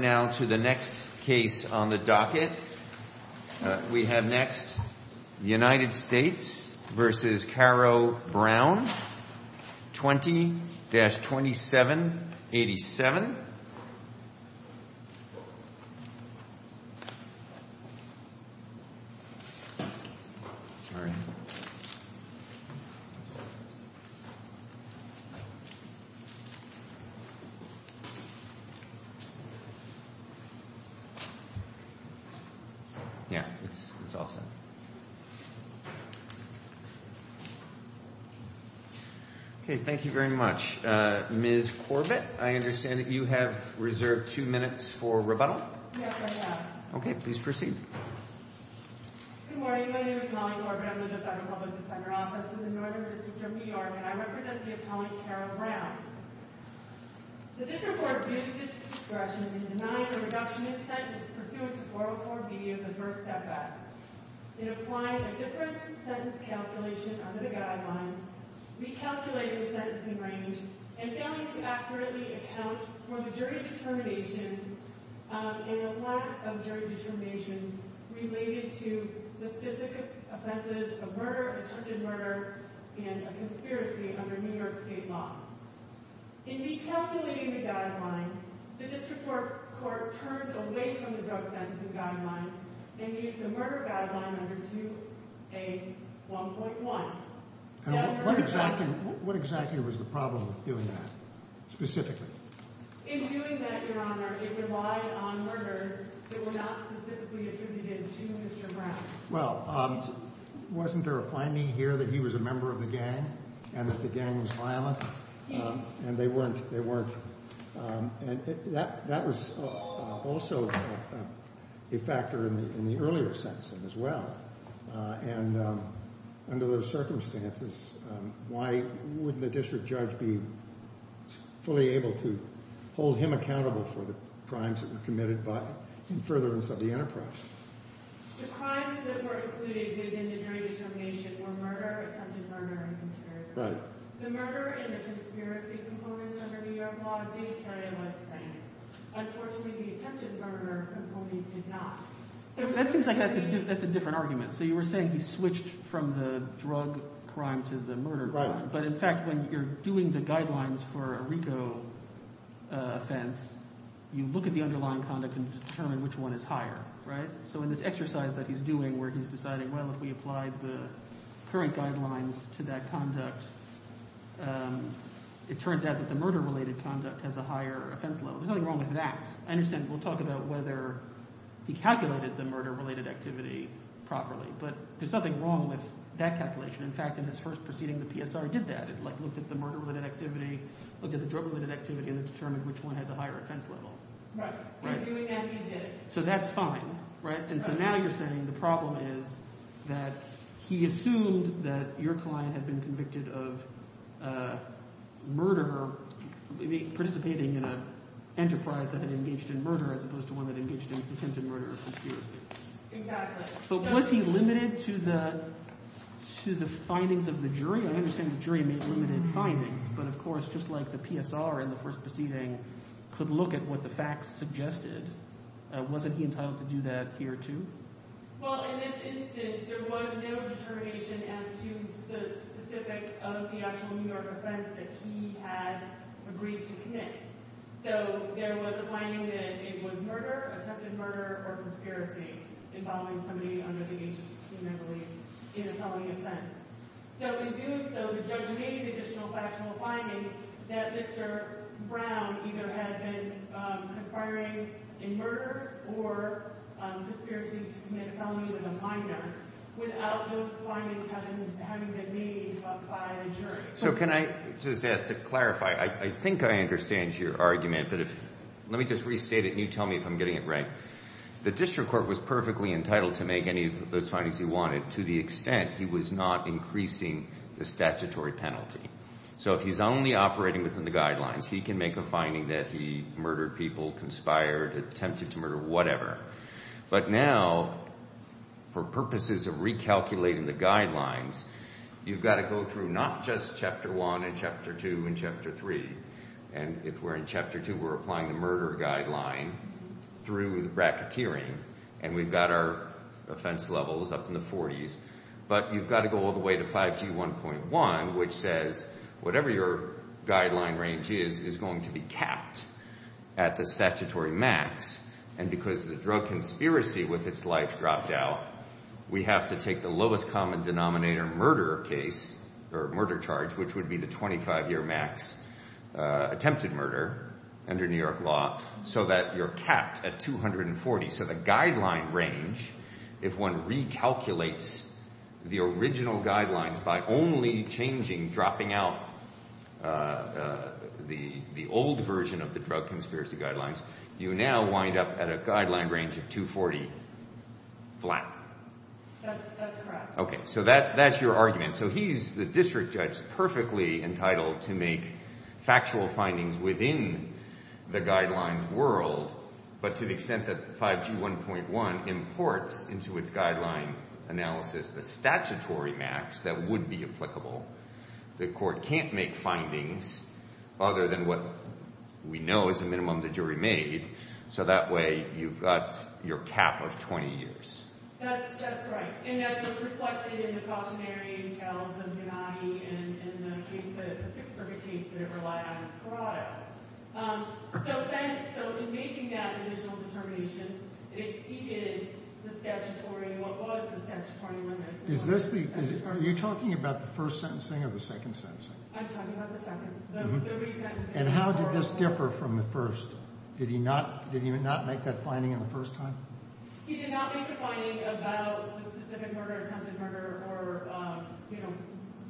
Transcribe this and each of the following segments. now to the next case on the docket. We have next the United States versus Carro-Brown, 20-2787. Sorry. Yeah, it's all set. Okay, thank you very much. Ms. Corbett, I understand that you have reserved two minutes for rebuttal? Yes, I have. Okay, please proceed. Good morning. My name is Molly Corbett. I'm with the Federal Public Defender Office in the Northern District of New York, and I represent the appellant, Carro-Brown. The district court abused its discretion in denying the reduction in sentence pursuant to 404B of the First Step Act. It applied a different sentence calculation under the guidelines, recalculated the sentencing range, and failed to accurately account for the jury determinations and lack of jury determination related to the specific offenses of murder, attempted murder, and a conspiracy under New York state law. In recalculating the guideline, the district court turned away from the drug sentencing guidelines and used the murder guideline under 2A1.1. And what exactly was the problem with doing that, specifically? In doing that, Your Honor, it relied on murders that were not specifically attributed to Mr. Brown. Well, wasn't there a finding here that he was a member of the gang and that the gang was violent? Yes. And they weren't. They weren't. And that was also a factor in the earlier sentencing as well. And under those circumstances, why wouldn't the district judge be fully able to hold him accountable for the crimes that were committed in furtherance of the enterprise? The crimes that were included in the jury determination were murder, attempted murder, and conspiracy. Right. The murder and the conspiracy components under New York law did carry a life sentence. Unfortunately, the attempted murder component did not. That seems like that's a different argument. So you were saying he switched from the drug crime to the murder crime. Right. But in fact, when you're doing the guidelines for a RICO offense, you look at the underlying conduct and determine which one is higher. Right? So in this exercise that he's doing where he's deciding, well, if we applied the current guidelines to that conduct, it turns out that the murder-related conduct has a higher offense level. There's nothing wrong with that. I understand we'll talk about whether he calculated the murder-related activity properly. But there's nothing wrong with that calculation. In fact, in his first proceeding, the PSR did that. It looked at the murder-related activity, looked at the drug-related activity, and it determined which one had the higher offense level. Right. By doing that, he did. So that's fine. Right? And so now you're saying the problem is that he assumed that your client had been convicted of murder, participating in an enterprise that had engaged in murder as opposed to one that engaged in attempted murder or conspiracy. Exactly. But was he limited to the findings of the jury? I understand the jury made limited findings. But of course, just like the PSR in the first proceeding could look at what the facts suggested, wasn't he entitled to do that here, too? Well, in this instance, there was no determination as to the specifics of the actual New York offense that he had agreed to commit. So there was a finding that it was murder, attempted murder, or conspiracy involving somebody under the age of 16, I believe, in a felony offense. So in doing so, the judge made additional factual findings that Mr. Brown either had been conspiring in murders or conspiracy to commit a felony with a minor without those findings having been made by the jury. So can I just ask to clarify? I think I understand your argument. But let me just restate it, and you tell me if I'm getting it right. The district court was perfectly entitled to make any of those findings he wanted to to the extent he was not increasing the statutory penalty. So if he's only operating within the guidelines, he can make a finding that he murdered people, conspired, attempted to murder, whatever. But now, for purposes of recalculating the guidelines, you've got to go through not just Chapter 1 and Chapter 2 and Chapter 3. And if we're in Chapter 2, we're applying the murder guideline through the bracketeering, and we've got our offense levels up in the 40s. But you've got to go all the way to 5G1.1, which says whatever your guideline range is, is going to be capped at the statutory max. And because the drug conspiracy with its life dropped out, we have to take the lowest common denominator murder case or murder charge, which would be the 25-year max attempted murder under New York law, so that you're capped at 240. So the guideline range, if one recalculates the original guidelines by only changing, dropping out the old version of the drug conspiracy guidelines, you now wind up at a guideline range of 240 flat. That's correct. Okay, so that's your argument. So he's, the district judge, perfectly entitled to make factual findings within the guidelines world, but to the extent that 5G1.1 imports into its guideline analysis the statutory max that would be applicable. The court can't make findings other than what we know is the minimum the jury made, so that way you've got your cap of 20 years. That's right. And that's what's reflected in the cautionary details of Gennady and the case, the Sixth Circuit case that it relied on in Carado. So then, so in making that additional determination, it exceeded the statutory, what was the statutory limit. Is this the, are you talking about the first sentencing or the second sentencing? I'm talking about the second. And how did this differ from the first? Did he not, did he not make that finding in the first time? He did not make the finding about the specific murder, attempted murder, or, you know,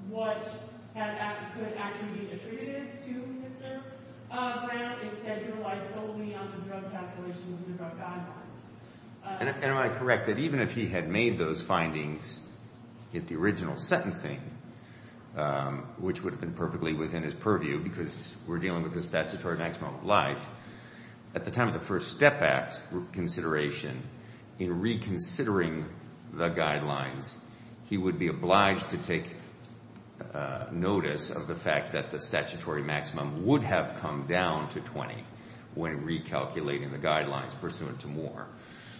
what could actually be attributed to Mr. Brown. Instead, he relied solely on the drug calculations and the drug guidelines. And am I correct that even if he had made those findings in the original sentencing, which would have been perfectly within his purview because we're dealing with the statutory maximum of life, at the time of the first step back consideration, in reconsidering the guidelines, he would be obliged to take notice of the fact that the statutory maximum would have come down to 20 when recalculating the guidelines pursuant to Moore.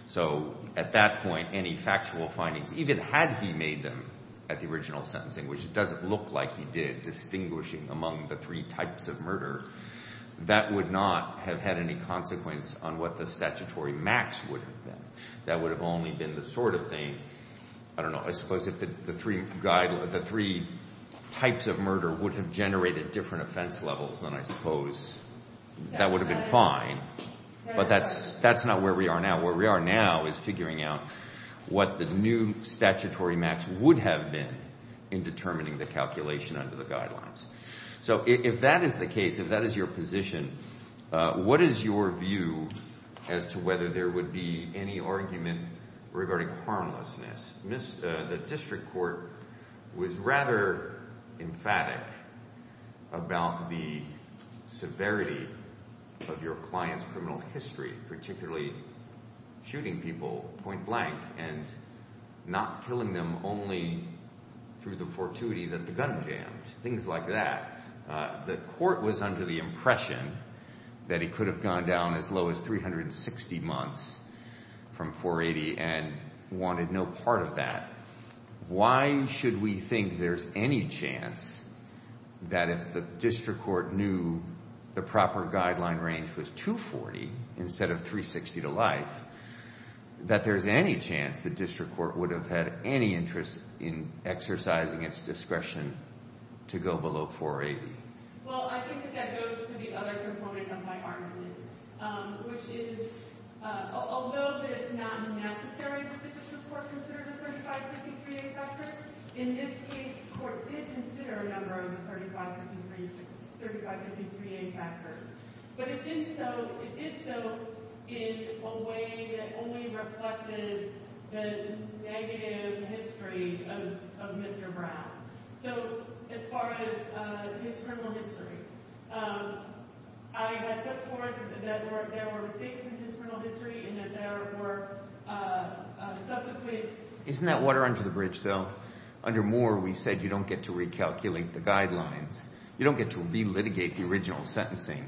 So at that point, any factual findings, even had he made them at the original sentencing, which it doesn't look like he did, distinguishing among the three types of murder, that would not have had any consequence on what the statutory max would have been. That would have only been the sort of thing, I don't know, I suppose if the three types of murder would have generated different offense levels, then I suppose that would have been fine. But that's not where we are now. Where we are now is figuring out what the new statutory max would have been in determining the calculation under the guidelines. So if that is the case, if that is your position, what is your view as to whether there would be any argument regarding harmlessness? The district court was rather emphatic about the severity of your client's criminal history, particularly shooting people point blank and not killing them only through the fortuity that the gun jammed. Things like that. The court was under the impression that he could have gone down as low as 360 months from 480 and wanted no part of that. Why should we think there's any chance that if the district court knew the proper guideline range was 240 instead of 360 to life, that there's any chance the district court would have had any interest in exercising its discretion to go below 480? Well, I think that that goes to the other component of my argument, which is although that it's not necessary for the district court to consider the 3553A factors, in this case the court did consider a number of the 3553A factors. But it did so in a way that only reflected the negative history of Mr. Brown. So as far as his criminal history, I have put forth that there were mistakes in his criminal history and that there were subsequent... Isn't that water under the bridge, though? Under Moore, we said you don't get to recalculate the guidelines. You don't get to relitigate the original sentencing,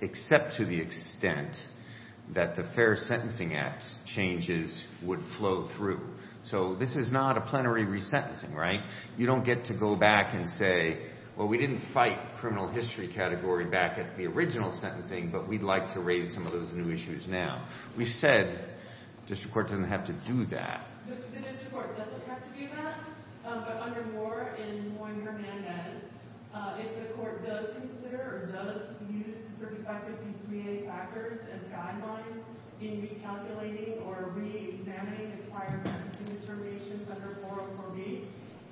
except to the extent that the Fair Sentencing Act changes would flow through. So this is not a plenary resentencing, right? You don't get to go back and say, well, we didn't fight criminal history category back at the original sentencing, but we'd like to raise some of those new issues now. We said the district court doesn't have to do that. The district court doesn't have to do that. But under Moore, in Moore and Hernandez, if the court does consider or does use the 3553A factors as guidelines in recalculating or reexamining expired sentencing determinations under 404B,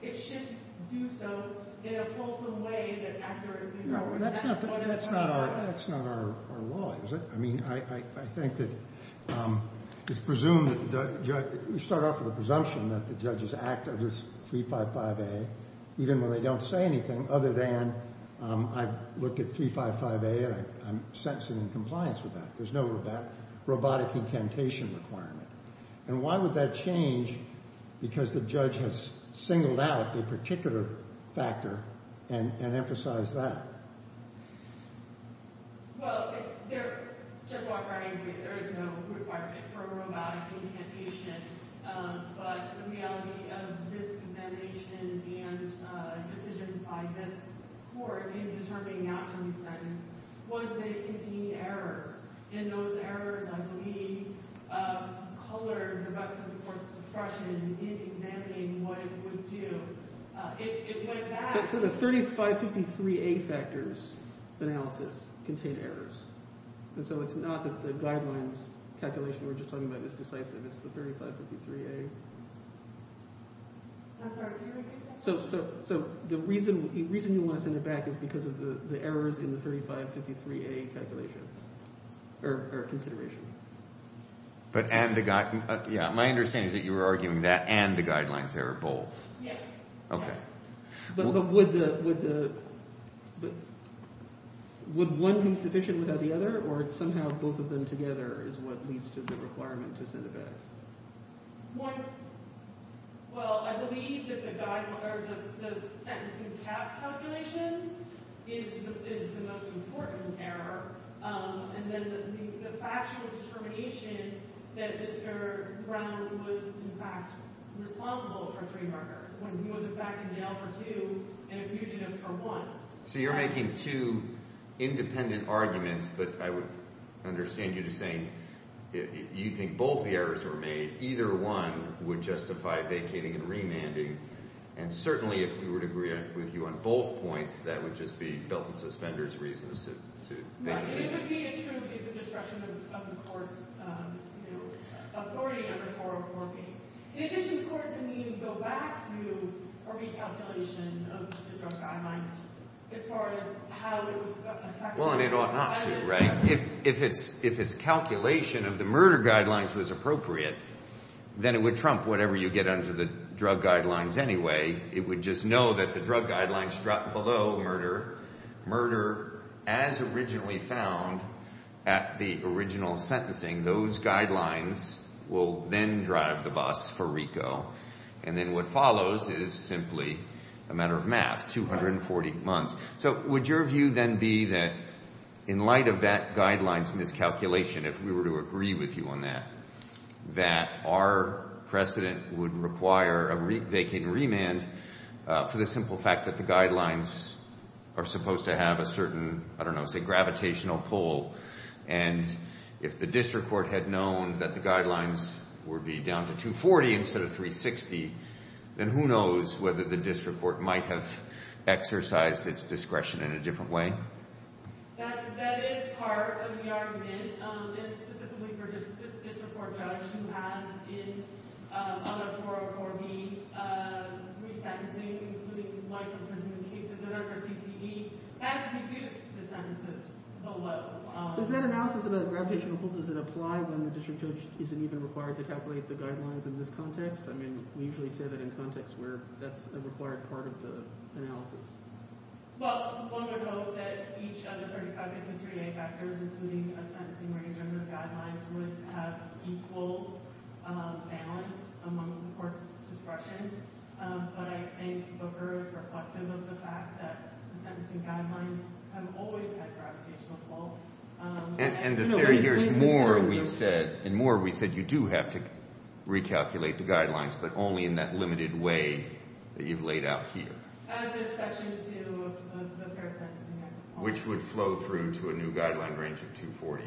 it should do so in a fulsome way that accurately... That's not our law, is it? I mean, I think that it's presumed that the judge... You start off with a presumption that the judge's act under 355A, even when they don't say anything other than I've looked at 355A and I'm sentencing in compliance with that. There's no robotic incantation requirement. And why would that change? Because the judge has singled out a particular factor and emphasized that. Well, there... Judge Walker, I agree that there is no requirement for a robotic incantation. But the reality of this examination and decision by this court in determining not to resentence was that it contained errors. And those errors, I believe, colored the rest of the court's discretion in examining what it would do. So the 3553A factors analysis contained errors. And so it's not that the guidelines calculation we were just talking about is decisive. It's the 3553A. I'm sorry, can you repeat that? So the reason you want to send it back is because of the errors in the 3553A calculation, or consideration. But and the... Yeah, my understanding is that you were arguing that and the guidelines error both. Yes. Okay. But would the... Would one be sufficient without the other? Or somehow both of them together is what leads to the requirement to send it back? One... Well, I believe that the sentence in cap calculation is the most important error. And then the factual determination that Mr. Brown was, in fact, responsible for three murders when he was, in fact, in jail for two and a fugitive for one. So you're making two independent arguments. But I would understand you to saying you think both the errors were made. Either one would justify vacating and remanding. And certainly if we were to agree with you on both points, that would just be built in suspenders reasons to... Right, it would be a true case of destruction of the court's authority under 404B. It is important to me to go back to a recalculation of the drug guidelines as far as how it was affected. Well, and it ought not to, right? If its calculation of the murder guidelines was appropriate, then it would trump whatever you get under the drug guidelines anyway. It would just know that the drug guidelines struck below murder, murder as originally found at the original sentencing. Those guidelines will then drive the bus for RICO. And then what follows is simply a matter of math, 240 months. So would your view then be that in light of that guideline's miscalculation, if we were to agree with you on that, that our precedent would require a vacant remand for the simple fact that the guidelines are supposed to have a certain, I don't know, say gravitational pull. And if the district court had known that the guidelines would be down to 240 instead of 360, then who knows whether the district court might have exercised its discretion in a different way? That is part of the argument, and specifically for this district court judge who has in other 404B resentencing, including life imprisonment cases that are for CCD, has reduced the sentences below. Does that analysis of the gravitational pull, does it apply when the district judge isn't even required to calculate the guidelines in this context? I mean, we usually say that in context where that's a required part of the analysis. Well, one would hope that each of the 33A vectors, including a sentencing range under the guidelines, would have equal balance amongst the court's discretion. But I think Booker is reflective of the fact that the sentencing guidelines have always had gravitational pull. And there's more we said, and more we said you do have to recalculate the guidelines, but only in that limited way that you've laid out here. Add this section to the fair sentencing guidelines. Which would flow through to a new guideline range of 240,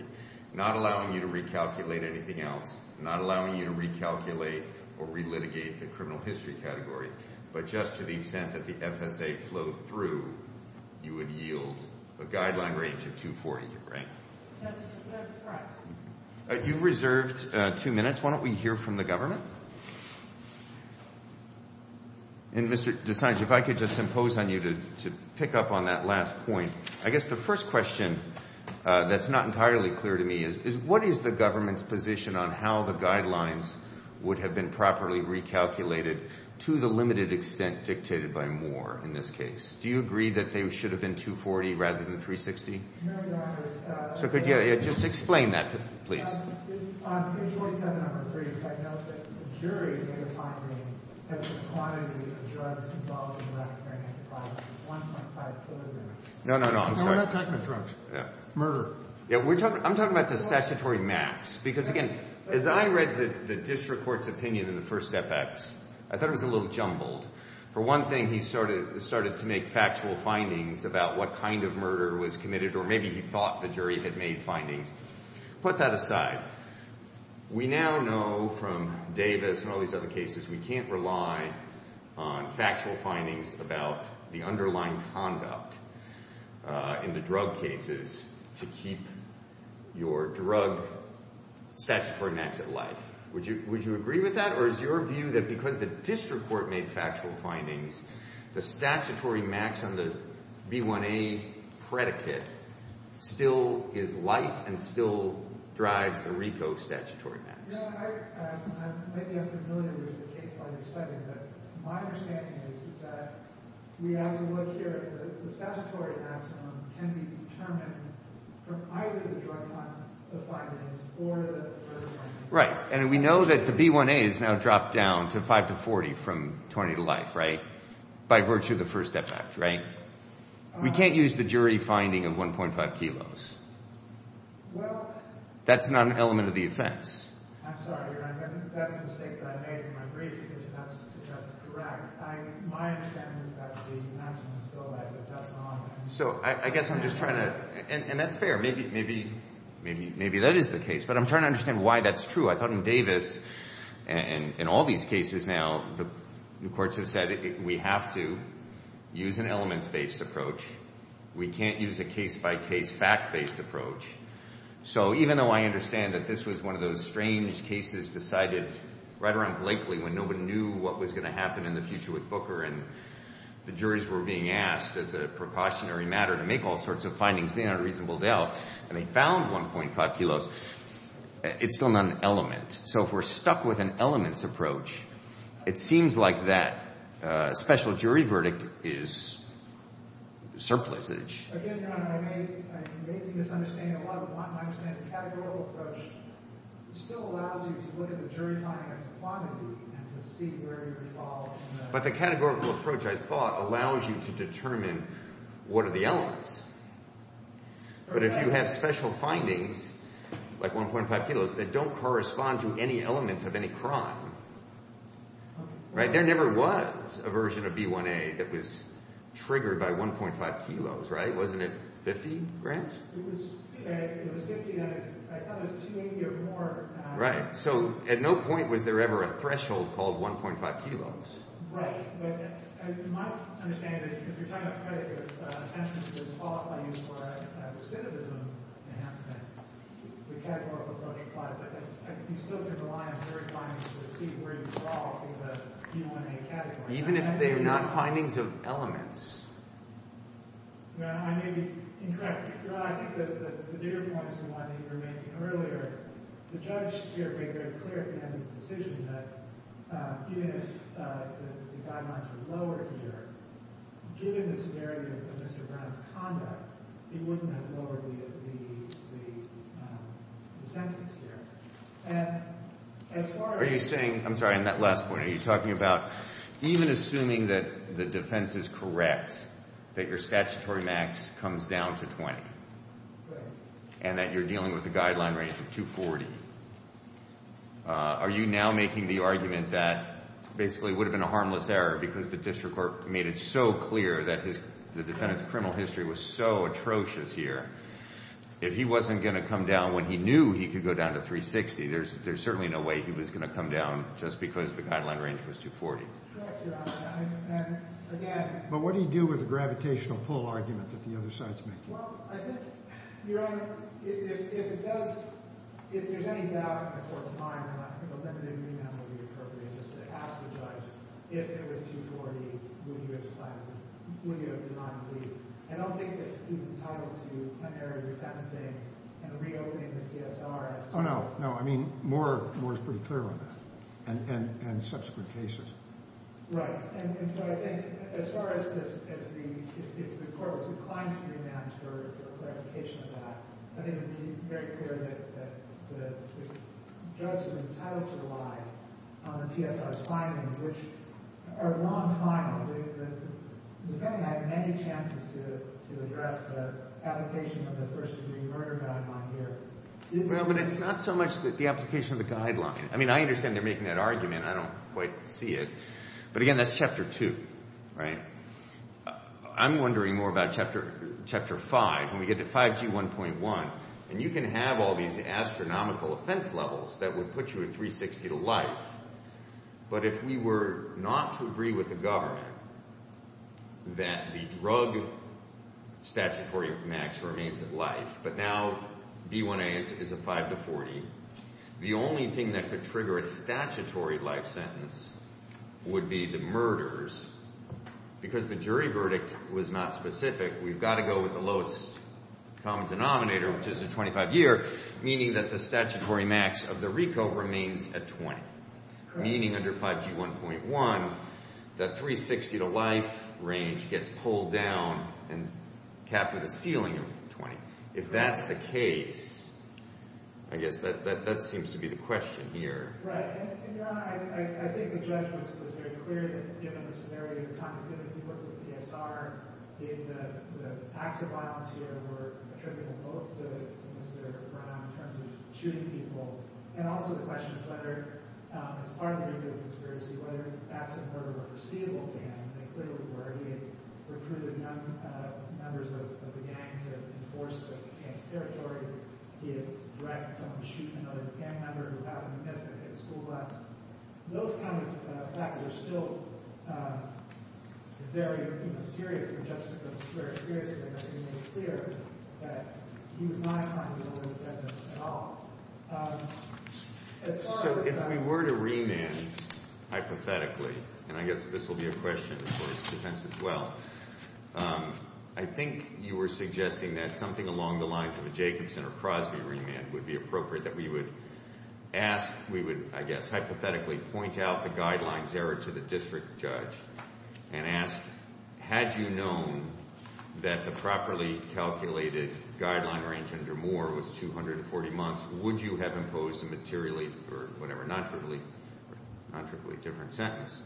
not allowing you to recalculate anything else, not allowing you to recalculate or relitigate the criminal history category, but just to the extent that the FSA flowed through, you would yield a guideline range of 240, right? That's correct. You reserved two minutes. Why don't we hear from the government? And, Mr. DeSantis, if I could just impose on you to pick up on that last point. I guess the first question that's not entirely clear to me is, what is the government's position on how the guidelines would have been properly recalculated to the limited extent dictated by Moore in this case? Do you agree that they should have been 240 rather than 360? No, Your Honor. So could you just explain that, please? Your Honor, on page 27 of the brief, I note that the jury made a finding as to the quantity of drugs involved in the left-brain enterprise was 1.5 kilograms. No, no, no. I'm sorry. No, we're not talking about drugs. Murder. Yeah, I'm talking about the statutory max. Because, again, as I read the district court's opinion in the first step act, I thought it was a little jumbled. For one thing, he started to make factual findings about what kind of murder was committed or maybe he thought the jury had made findings. Put that aside. We now know from Davis and all these other cases we can't rely on factual findings about the underlying conduct in the drug cases to keep your drug statutory max at life. Would you agree with that? Or is your view that because the district court made factual findings, the statutory max on the B1A predicate still is life and still drives the RICO statutory max? You know, I might be unfamiliar with the case file you're citing, but my understanding is that we have to look here. The statutory maximum can be determined from either the drug findings or the murder findings. Right, and we know that the B1A has now dropped down to 5 to 40 from 20 to life, right, by virtue of the first step act, right? We can't use the jury finding of 1.5 kilos. That's not an element of the offense. I'm sorry, Your Honor. That's a mistake that I made in my brief because that's correct. My understanding is that the maximum is still life. So I guess I'm just trying to – and that's fair. Maybe that is the case, but I'm trying to understand why that's true. I thought in Davis and in all these cases now the courts have said we have to use an elements-based approach. We can't use a case-by-case fact-based approach. So even though I understand that this was one of those strange cases decided right around Blakely when nobody knew what was going to happen in the future with Booker and the juries were being asked as a precautionary matter to make all sorts of findings, they had a reasonable doubt, and they found 1.5 kilos, it's still not an element. So if we're stuck with an elements approach, it seems like that special jury verdict is surplusage. Again, Your Honor, I may be misunderstanding a lot, but my understanding is the categorical approach still allows you to look at the jury finding as a quantity and to see where you would fall. But the categorical approach, I thought, allows you to determine what are the elements. But if you have special findings, like 1.5 kilos, that don't correspond to any element of any crime, there never was a version of B1A that was triggered by 1.5 kilos, right? Wasn't it 50, Grant? It was 50, and I thought it was 280 or more. Right, so at no point was there ever a threshold called 1.5 kilos. Right, but my understanding is that if you're talking about a case where the sentence is qualifying for a recidivism enhancement, the categorical approach applies, but you still can rely on jury findings to see where you would fall in the B1A category. Even if they're not findings of elements? No, I may be incorrect. I think the bigger point is the one you were making earlier. The judge here made very clear at the end of his decision that even if the guidelines were lowered here, given the severity of Mr. Brown's conduct, he wouldn't have lowered the sentence here. And as far as— Are you saying—I'm sorry, on that last point, are you talking about even assuming that the defense is correct, that your statutory max comes down to 20, and that you're dealing with a guideline range of 240? Are you now making the argument that basically it would have been a harmless error because the district court made it so clear that the defendant's criminal history was so atrocious here that he wasn't going to come down when he knew he could go down to 360? There's certainly no way he was going to come down just because the guideline range was 240. Correct, Your Honor. And again— But what do you do with the gravitational pull argument that the other side's making? Well, I think, Your Honor, if it does—if there's any doubt in the court's mind that a limited remand would be appropriate just to ask the judge, if it was 240, would you have decided—would you have designed to leave? And I don't think that he's entitled to plenary resentencing and reopening the PSR as— Oh, no, no. I mean Moore is pretty clear on that and subsequent cases. Right. And so I think as far as the court was inclined to remand for clarification of that, I think it would be very clear that the judge was entitled to rely on the PSR's finding, which— a long finding. The defendant had many chances to address the application of the first-degree murder guideline here. Well, but it's not so much the application of the guideline. I mean, I understand they're making that argument. I don't quite see it. But again, that's Chapter 2, right? I'm wondering more about Chapter 5, when we get to 5G1.1, and you can have all these astronomical offense levels that would put you at 360 to life. But if we were not to agree with the government that the drug statutory max remains at life, but now B1A is a 5 to 40, the only thing that could trigger a statutory life sentence would be the murders, because the jury verdict was not specific. We've got to go with the lowest common denominator, which is a 25-year, meaning that the statutory max of the RICO remains at 20, meaning under 5G1.1, that 360 to life range gets pulled down and capped with a ceiling of 20. If that's the case, I guess that seems to be the question here. Right. And, Your Honor, I think the judge was very clear that given the scenario, given the people at the PSR, the acts of violence here were attributable both to Mr. Brown in terms of shooting people, and also the question of whether, as part of the RICO conspiracy, whether the facts of murder were foreseeable, and they clearly were. He had recruited young members of the gang to enforce the gang's territory. He had directed someone to shoot another gang member who happened to miss a school bus. Those kind of facts are still very, you know, serious. The judge took those very seriously. He made it clear that he was not accountable for the sentence at all. So if we were to remand hypothetically, and I guess this will be a question as far as defense as well, I think you were suggesting that something along the lines of a Jacobson or Crosby remand would be appropriate, that we would ask, we would, I guess, hypothetically point out the guidelines there to the district judge and ask, had you known that the properly calculated guideline range under Moore was 240 months, would you have imposed a materially or whatever, nontrivially different sentence?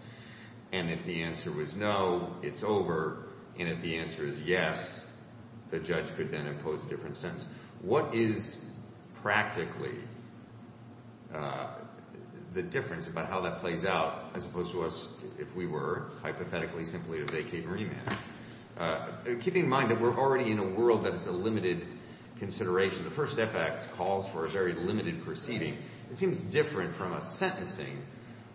And if the answer was no, it's over. And if the answer is yes, the judge could then impose a different sentence. What is practically the difference about how that plays out as opposed to us, if we were, hypothetically, simply to vacate and remand? Keeping in mind that we're already in a world that is a limited consideration. The First Step Act calls for a very limited proceeding. It seems different from a sentencing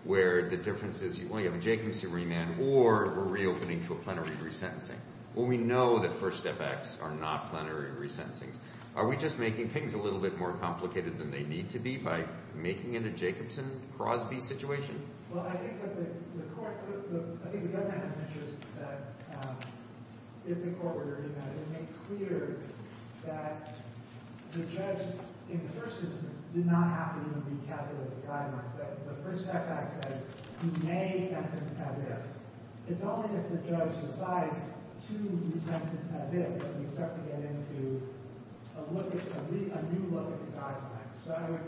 where the difference is you only have a Jacobson remand or we're reopening to a plenary resentencing. Well, we know that First Step Acts are not plenary resentencings. Are we just making things a little bit more complicated than they need to be by making it a Jacobson-Crosby situation? Well, I think that the court, I think the government has an interest that if the court were to make clear that the judge, in the first instance, did not have to even recalculate the guidelines. The First Step Act says he may sentence as if. It's only if the judge decides to sentence as if that we start to get into a new look at the guidelines. So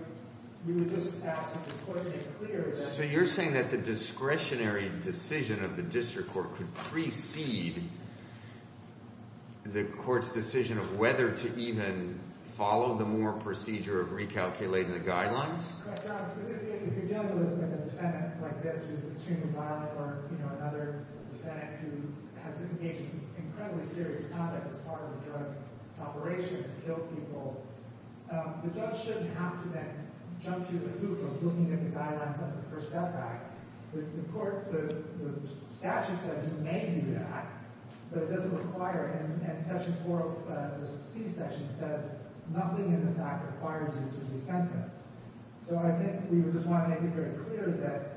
we would just ask that the court make clear that— So you're saying that the discretionary decision of the district court could precede the court's decision of whether to even follow the Moore procedure of recalculating the guidelines? If you're dealing with a defendant like this who's extremely violent or, you know, another defendant who has engaged in incredibly serious conduct as part of a drug operation to kill people, the judge shouldn't have to then jump to the proof of looking at the guidelines of the First Step Act. The statute says he may do that, but it doesn't require him. And Section 4 of the C section says nothing in this act requires him to be sentenced. So I think we would just want to make it very clear that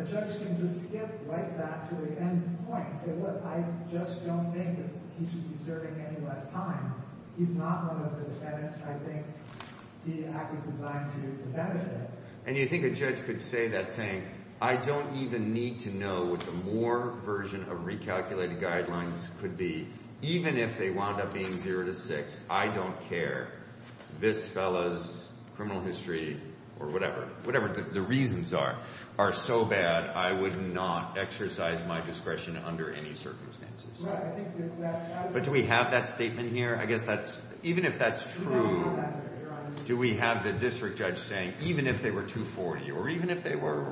a judge can just skip right back to the end point and say, look, I just don't think he should be serving any less time. He's not one of the defendants. I think the act was designed to benefit him. And you think a judge could say that saying, I don't even need to know what the Moore version of recalculated guidelines could be even if they wound up being 0 to 6, I don't care, this fellow's criminal history or whatever, whatever the reasons are, are so bad I would not exercise my discretion under any circumstances. But do we have that statement here? I guess that's – even if that's true, do we have the district judge saying even if they were 240 or even if they were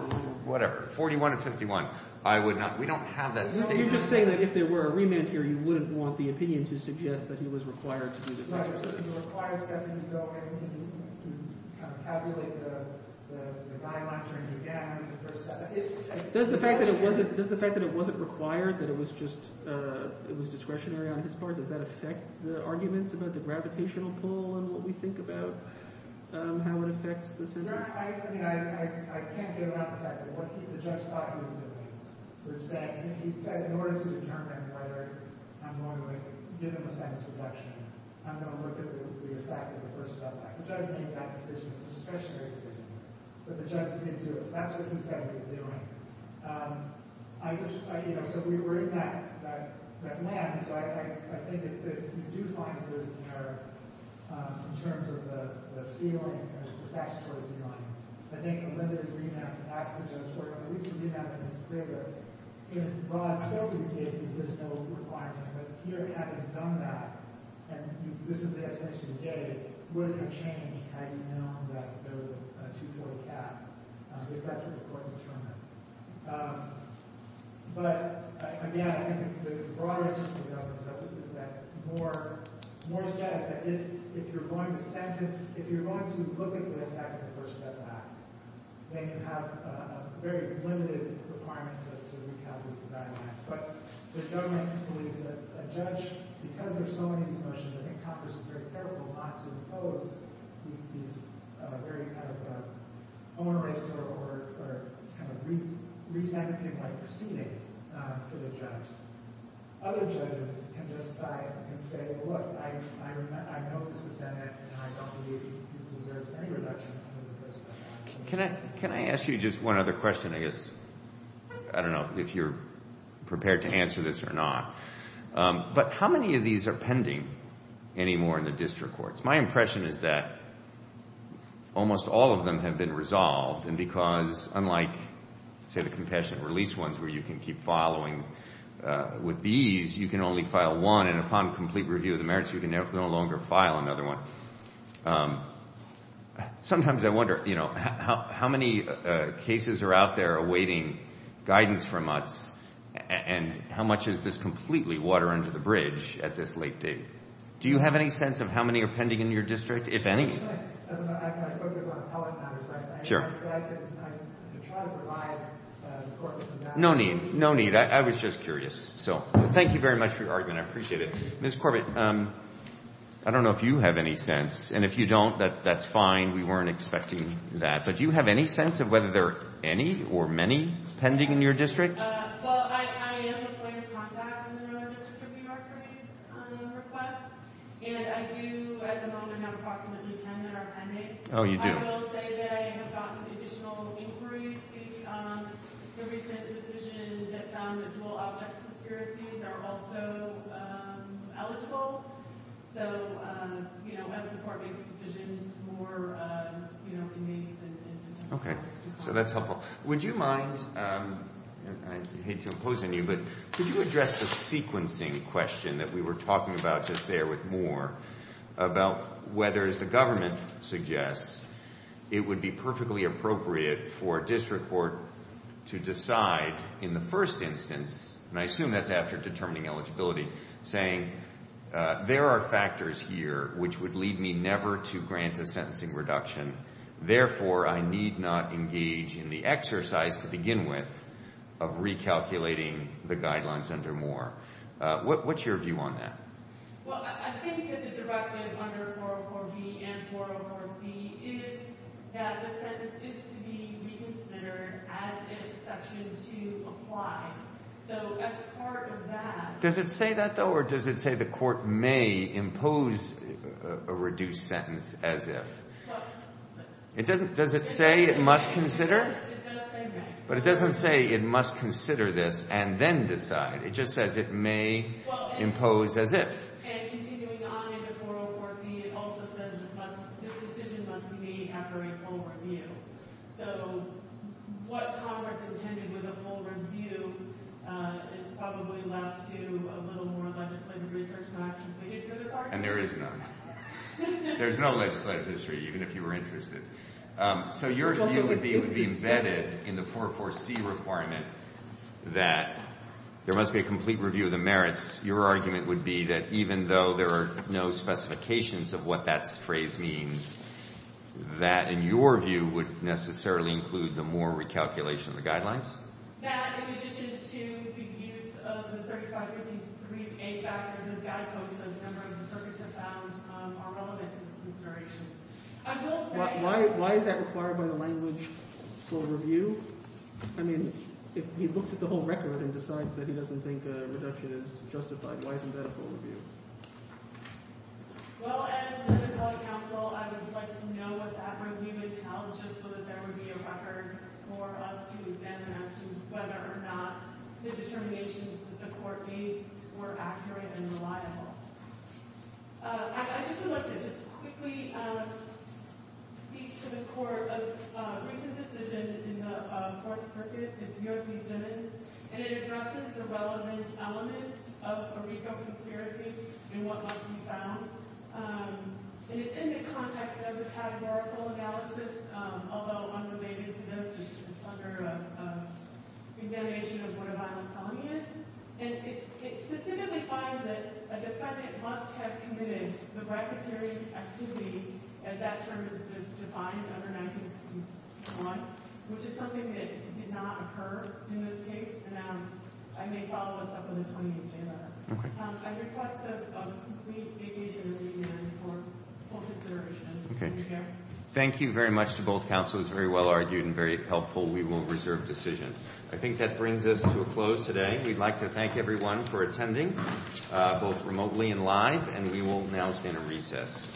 whatever, 41 or 51, I would not – we don't have that statement. So you're just saying that if there were a remand here, you wouldn't want the opinion to suggest that he was required to do this exercise. Right. It would require a second to go in to kind of tabulate the guidelines or anything. Yeah, I mean the first – Does the fact that it wasn't – does the fact that it wasn't required, that it was just – it was discretionary on his part, does that affect the arguments about the gravitational pull and what we think about how it affects the sentence? I mean I can't get around the fact that what the judge thought he was doing was saying – he said in order to determine whether I'm going to give him a sentence reduction, I'm going to look at what would be the effect of the first step. The judge made that decision. It was discretionary decision. But the judge didn't do it, so that's what he said he was doing. I just – you know, so we're in that land, so I think if you do find that there's an error in terms of the ceiling, the statutory ceiling, I think whether the remand to ask the judge for it, at least the remand is clear that if – well, in so many cases, there's no requirement. But here, having done that, and this is the explanation today, would it have changed had you known that there was a 240 cap? If that's what the court determines. But again, I think the broader issue here is that Moore says that if you're going to sentence – if you're going to look at the effect of the First Step Act, then you have a very limited requirement to recalculate the value of the act. But the government believes that a judge – because there's so many of these motions, I think Congress is very careful not to impose these very kind of own-eraser or kind of re-sentencing-like proceedings for the judge. Other judges can just sigh and say, look, I know this has been – and I don't believe this deserves any reduction under the First Step Act. Can I ask you just one other question? I guess – I don't know if you're prepared to answer this or not. But how many of these are pending anymore in the district courts? My impression is that almost all of them have been resolved, and because unlike, say, the compassionate release ones where you can keep following with these, you can only file one, and upon complete review of the merits, you can no longer file another one. Sometimes I wonder, you know, how many cases are out there awaiting guidance from us, and how much is this completely water under the bridge at this late date? Do you have any sense of how many are pending in your district, if any? As a matter of fact, I focus on appellate matters. Sure. But I can try to provide the court with some data. No need, no need. I was just curious. So thank you very much for your argument. I appreciate it. Ms. Corbett, I don't know if you have any sense. And if you don't, that's fine. We weren't expecting that. But do you have any sense of whether there are any or many pending in your district? Well, I am a point of contact in the Northern District of New York for these requests, and I do, at the moment, have approximately 10 that are pending. Oh, you do? I will say that I have gotten additional inquiries based on the recent decision that found that dual object conspiracies are also eligible. So, you know, as the court makes decisions, more, you know, can be said. Okay. So that's helpful. Would you mind, and I hate to impose on you, but could you address the sequencing question that we were talking about just there with Moore about whether, as the government suggests, it would be perfectly appropriate for a district court to decide in the first instance, and I assume that's after determining eligibility, saying there are factors here which would lead me never to grant a sentencing reduction. Therefore, I need not engage in the exercise to begin with of recalculating the guidelines under Moore. What's your view on that? Well, I think that the directive under 404B and 404C is that the sentence is to be reconsidered as an exception to apply. So as part of that. Does it say that, though, or does it say the court may impose a reduced sentence as if? It doesn't. Does it say it must consider? It does say that. But it doesn't say it must consider this and then decide. It just says it may impose as if. And continuing on into 404C, it also says this decision must be made after a full review. So what Congress intended with a full review is probably left to a little more legislative research not completed for this argument. And there is none. There's no legislative history, even if you were interested. So your view would be embedded in the 404C requirement that there must be a complete review of the merits. Your argument would be that even though there are no specifications of what that phrase means, that in your view would necessarily include the Moore recalculation of the guidelines? That in addition to the use of the 3553A factors as guideposts, as members of the circuits have found, are relevant to this consideration. Why is that required by the language for a review? I mean, if he looks at the whole record and decides that he doesn't think a reduction is justified, why isn't that a full review? Well, as a member of the council, I would like to know what that review would tell just so that there would be a record for us to examine as to whether or not the determinations that the court gave were accurate and reliable. I just would like to just quickly speak to the court of recent decision in the Fourth Circuit. It's U.S.C. Simmons. And it addresses the relevant elements of Eureka conspiracy and what must be found. And it's in the context of the categorical analysis, although unrelated to those issues. It's under a examination of what a violent felony is. And it specifically finds that a defendant must have committed the bribery activity, as that term is defined under 1961, which is something that did not occur in this case. And I may follow this up on the 28th day letter. I request a complete vacation of the hearing for full consideration. Thank you very much to both counselors. Very well argued and very helpful. We will reserve decision. I think that brings us to a close today. We'd like to thank everyone for attending, both remotely and live. And we will now stand at recess.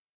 Thank you.